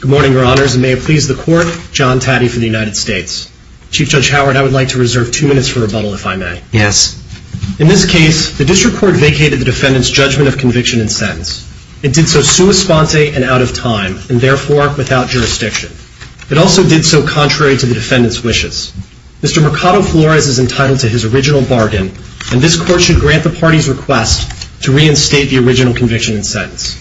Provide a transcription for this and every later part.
Good morning, Your Honors, and may it please the Court, John Taddy for the United States. Chief Judge Howard, I would like to reserve two minutes for rebuttal, if I may. Yes. In this case, the District Court vacated the defendant's judgment of conviction and sentence. It did so sua sponte and out of time, and therefore without jurisdiction. It also did so contrary to the defendant's wishes. Mr. Mercado-Flores is entitled to his original bargain, and this Court should grant the party's request to reinstate the original conviction and sentence.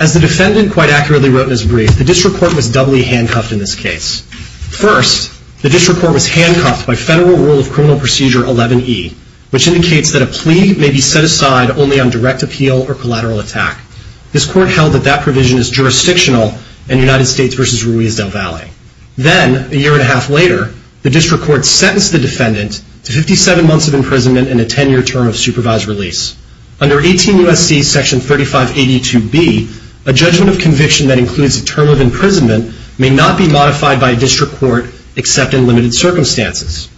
As the defendant quite accurately wrote in his brief, the District Court was doubly handcuffed in this case. First, the District Court was handcuffed by Federal Rule of Criminal Procedure 11E, which indicates that a plea may be set aside only on direct appeal or collateral attack. This Court held that that provision is jurisdictional in United States v. Ruiz del Valle. Then, a year and a half later, the District Court sentenced the defendant to 57 months of imprisonment and a 10-year term of supervised release. Under 18 U.S.C. Section 3582B, a judgment of conviction that includes a term of imprisonment may not be modified by a District Court except in limited circumstances.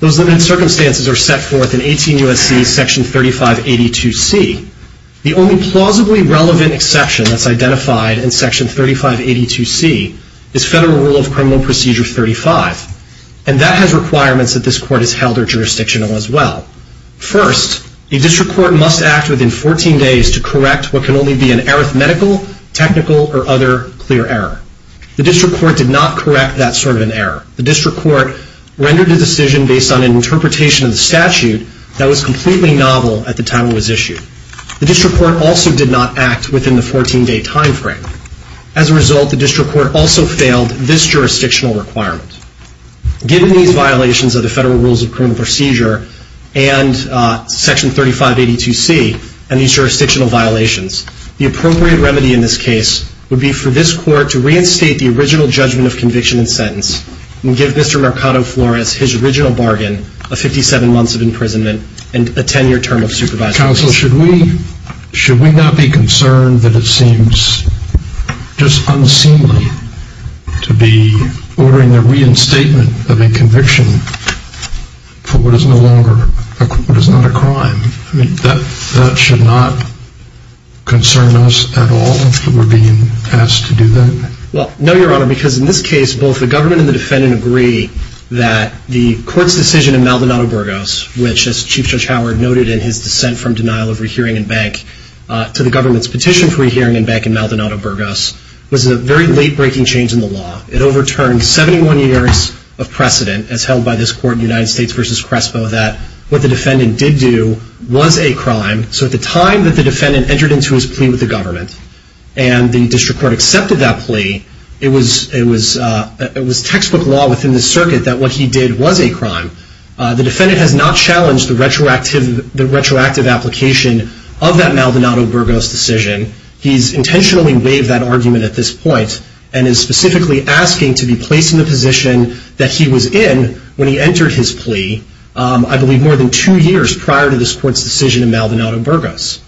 Those limited circumstances are set forth in 18 U.S.C. Section 3582C. The only plausibly relevant exception that's identified in Section 3582C is Federal Rule of Criminal Procedure 35, and that has requirements that this Court has held are jurisdictional as well. First, a District Court must act within 14 days to correct what can only be an arithmetical, technical, or other clear error. The District Court did not correct that sort of an error. The District Court rendered a decision based on an interpretation of the statute that was completely novel at the time it was issued. The District Court also did not act within the 14-day time frame. As a result, the District Court also failed this jurisdictional requirement. Given these violations of the Federal Rules of Criminal Procedure and Section 3582C, and these jurisdictional violations, the appropriate remedy in this case would be for this Court to reinstate the original judgment of conviction and sentence and give Mr. Mercado-Flores his original bargain of 57 months of imprisonment and a 10-year term of supervised release. Counsel, should we not be concerned that it seems just unseemly to be ordering the reinstatement of a conviction for what is no longer, what is not a crime? That should not concern us at all that we're being asked to do that? Well, no, Your Honor, because in this case, both the government and the defendant agree that the Court's decision in Maldonado-Burgos, which as Chief Judge Howard noted in his dissent from denial of re-hearing in Bank, to the government's petition for re-hearing in Bank in Maldonado-Burgos, was a very late-breaking change in the law. It overturned 71 years of precedent as held by this Court in United States v. Crespo that what the defendant did do was a crime. So at the time that the defendant entered into his plea with the government and the District Court accepted that plea, it was textbook law within the circuit that what he did was a crime. The defendant has not challenged the retroactive application of that Maldonado-Burgos decision. He's intentionally waived that argument at this point and is specifically asking to be placed in the position that he was in when he entered his plea, I believe more than two years prior to this Court's decision in Maldonado-Burgos.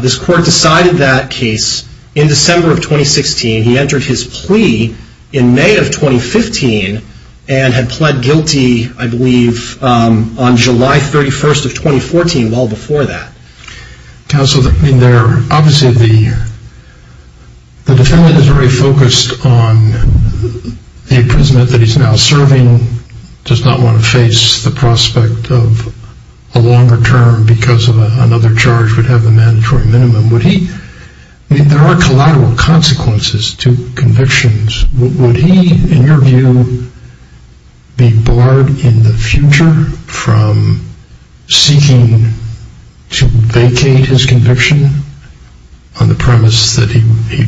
This Court decided that case in December of 2016. He entered his plea in May of 2015 and had pled guilty, I believe, on July 31st of 2014, well before that. Counsel, obviously the defendant is very focused on the imprisonment that he's now serving, does not want to face the prospect of a longer term because another charge would have the mandatory minimum. There are collateral consequences to convictions. Would he, in your view, be barred in the future from seeking to vacate his conviction on the premise that he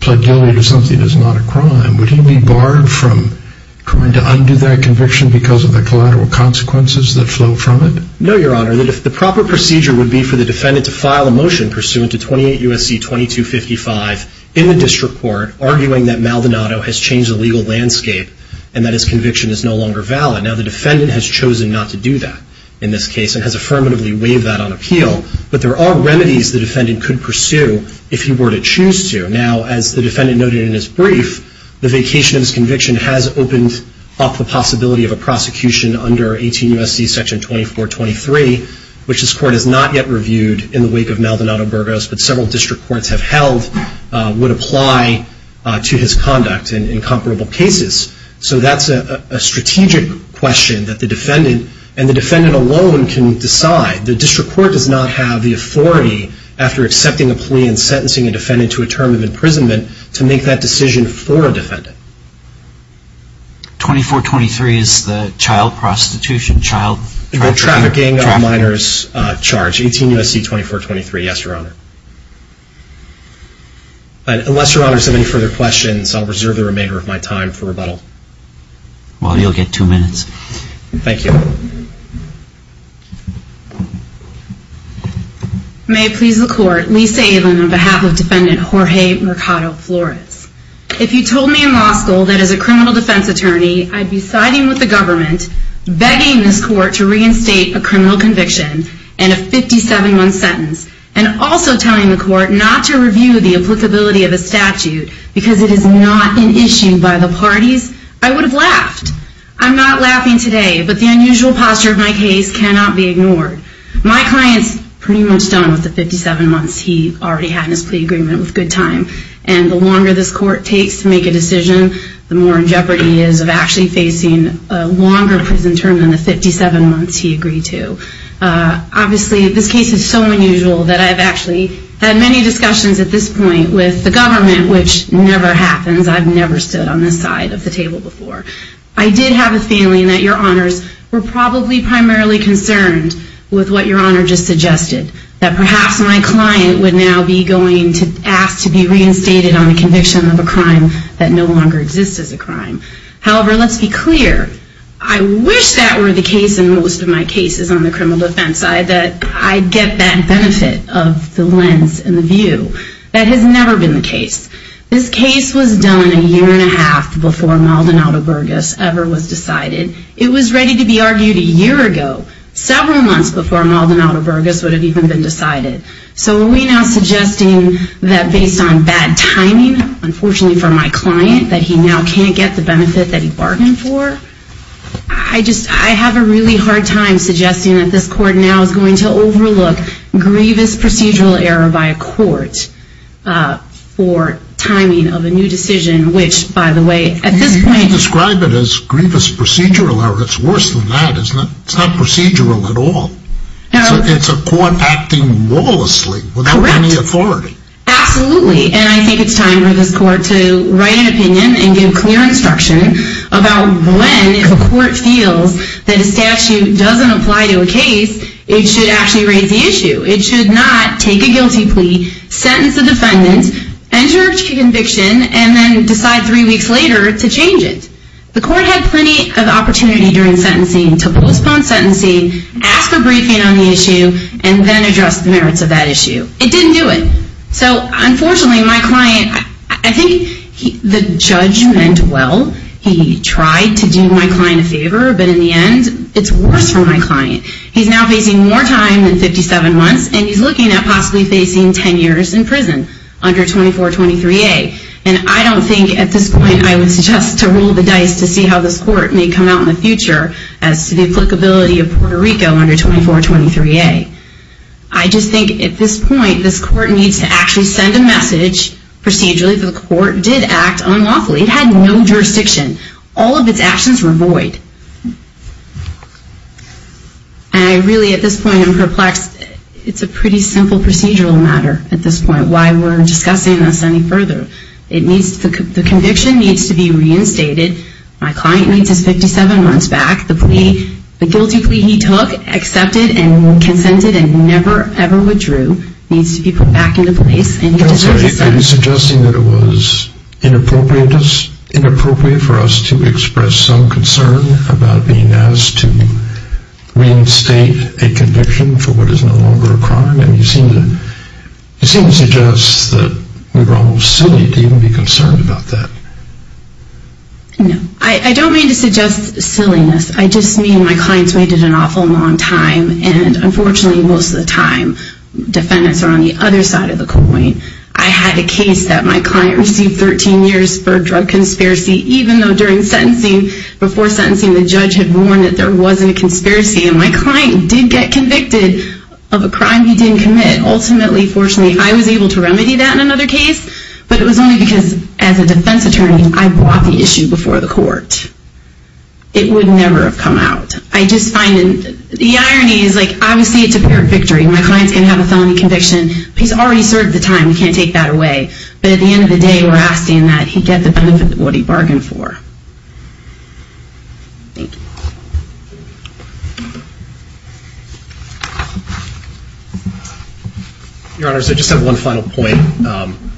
pled guilty to something that is not a crime? Would he be barred from trying to undo that conviction because of the collateral consequences that flow from it? No, Your Honor. The proper procedure would be for the defendant to file a motion pursuant to 28 U.S.C. 2255 in the district court arguing that Maldonado has changed the legal landscape and that his conviction is no longer valid. Now, the defendant has chosen not to do that in this case and has affirmatively waived that on appeal, but there are remedies the defendant could pursue if he were to choose to. Now, as the defendant noted in his brief, the vacation of his conviction has opened up the possibility of a prosecution under 18 U.S.C. section 2423, which this court has not yet reviewed in the wake of Maldonado-Burgos, but several district courts have held would apply to his conduct in comparable cases. So that's a strategic question that the defendant and the defendant alone can decide. The district court does not have the authority after accepting a plea and sentencing a defendant to a term of imprisonment to make that decision for a defendant. 2423 is the child prostitution, child trafficking? The trafficking of minors charge, 18 U.S.C. 2423, yes, Your Honor. Unless Your Honor has any further questions, I'll reserve the remainder of my time for rebuttal. Well, you'll get two minutes. Thank you. May it please the court, Lisa Avin on behalf of defendant Jorge Mercado-Flores. If you told me in law school that as a criminal defense attorney I'd be siding with the government, begging this court to reinstate a criminal conviction and a 57-month sentence, and also telling the court not to review the applicability of a statute because it is not an issue by the parties, I would have laughed. I'm not laughing today, but the unusual posture of my case cannot be ignored. My client's pretty much done with the 57 months he already had in his plea agreement with good time, and the longer this court takes to make a decision, the more in jeopardy he is of actually facing a longer prison term than the 57 months he agreed to. Obviously, this case is so unusual that I've actually had many discussions at this point with the government, which never happens. I've never stood on this side of the table before. I did have a feeling that your honors were probably primarily concerned with what your honor just suggested, that perhaps my client would now be going to ask to be reinstated on the conviction of a crime that no longer exists as a crime. However, let's be clear. I wish that were the case in most of my cases on the criminal defense side, that I'd get that benefit of the lens and the view. That has never been the case. This case was done a year and a half before Maldonado-Burgess ever was decided. It was ready to be argued a year ago, several months before Maldonado-Burgess would have even been decided. So are we now suggesting that based on bad timing, unfortunately for my client, that he now can't get the benefit that he bargained for? I have a really hard time suggesting that this court now is going to overlook grievous procedural error by a court for timing of a new decision, which, by the way, at this point... You describe it as grievous procedural error. It's worse than that, isn't it? It's not procedural at all. It's a court acting lawlessly without any authority. Correct. Absolutely. And I think it's time for this court to write an opinion and give clear instruction about when, if a court feels that a statute doesn't apply to a case, it should actually raise the issue. It should not take a guilty plea, sentence the defendant, enter into conviction, and then decide three weeks later to change it. The court had plenty of opportunity during sentencing to postpone sentencing, ask for briefing on the issue, and then address the merits of that issue. It didn't do it. So, unfortunately, my client... I think the judge meant well. He tried to do my client a favor, but in the end, it's worse for my client. He's now facing more time than 57 months, and he's looking at possibly facing 10 years in prison under 2423A. And I don't think at this point I would suggest to roll the dice to see how this court may come out in the future as to the applicability of Puerto Rico under 2423A. I just think at this point, this court needs to actually send a message procedurally that the court did act unlawfully. It had no jurisdiction. All of its actions were void. And I really, at this point, am perplexed. It's a pretty simple procedural matter at this point, why we're discussing this any further. The conviction needs to be reinstated. My client needs his 57 months back. The guilty plea he took, accepted, and consented, and never, ever withdrew needs to be put back into place. I'm sorry. Are you suggesting that it was inappropriate for us to express some concern about being asked to reinstate a conviction for what is no longer a crime? You seem to suggest that we were almost silly to even be concerned about that. No. I don't mean to suggest silliness. I just mean my clients waited an awful long time. And unfortunately, most of the time, defendants are on the other side of the coin. I had a case that my client received 13 years for a drug conspiracy, even though during sentencing, before sentencing, the judge had warned that there wasn't a conspiracy. And my client did get convicted of a crime he didn't commit. Ultimately, fortunately, I was able to remedy that in another case. But it was only because, as a defense attorney, I brought the issue before the court. It would never have come out. I just find the irony is, like, obviously it's a fair victory. My client's going to have a felony conviction. He's already served the time. We can't take that away. But at the end of the day, we're asking that he get the benefit of what he bargained for. Thank you. Your Honors, I just have one final point.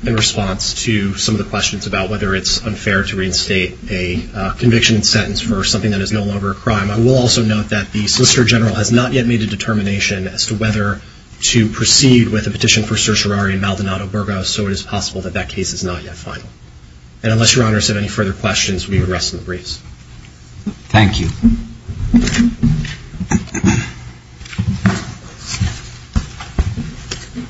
In response to some of the questions about whether it's unfair to reinstate a conviction and sentence for something that is no longer a crime, I will also note that the Solicitor General has not yet made a determination as to whether to proceed with a petition for certiorari in Maldonado Burgos, so it is possible that that case is not yet final. And unless Your Honors have any further questions, we would rest in the briefs. Thank you.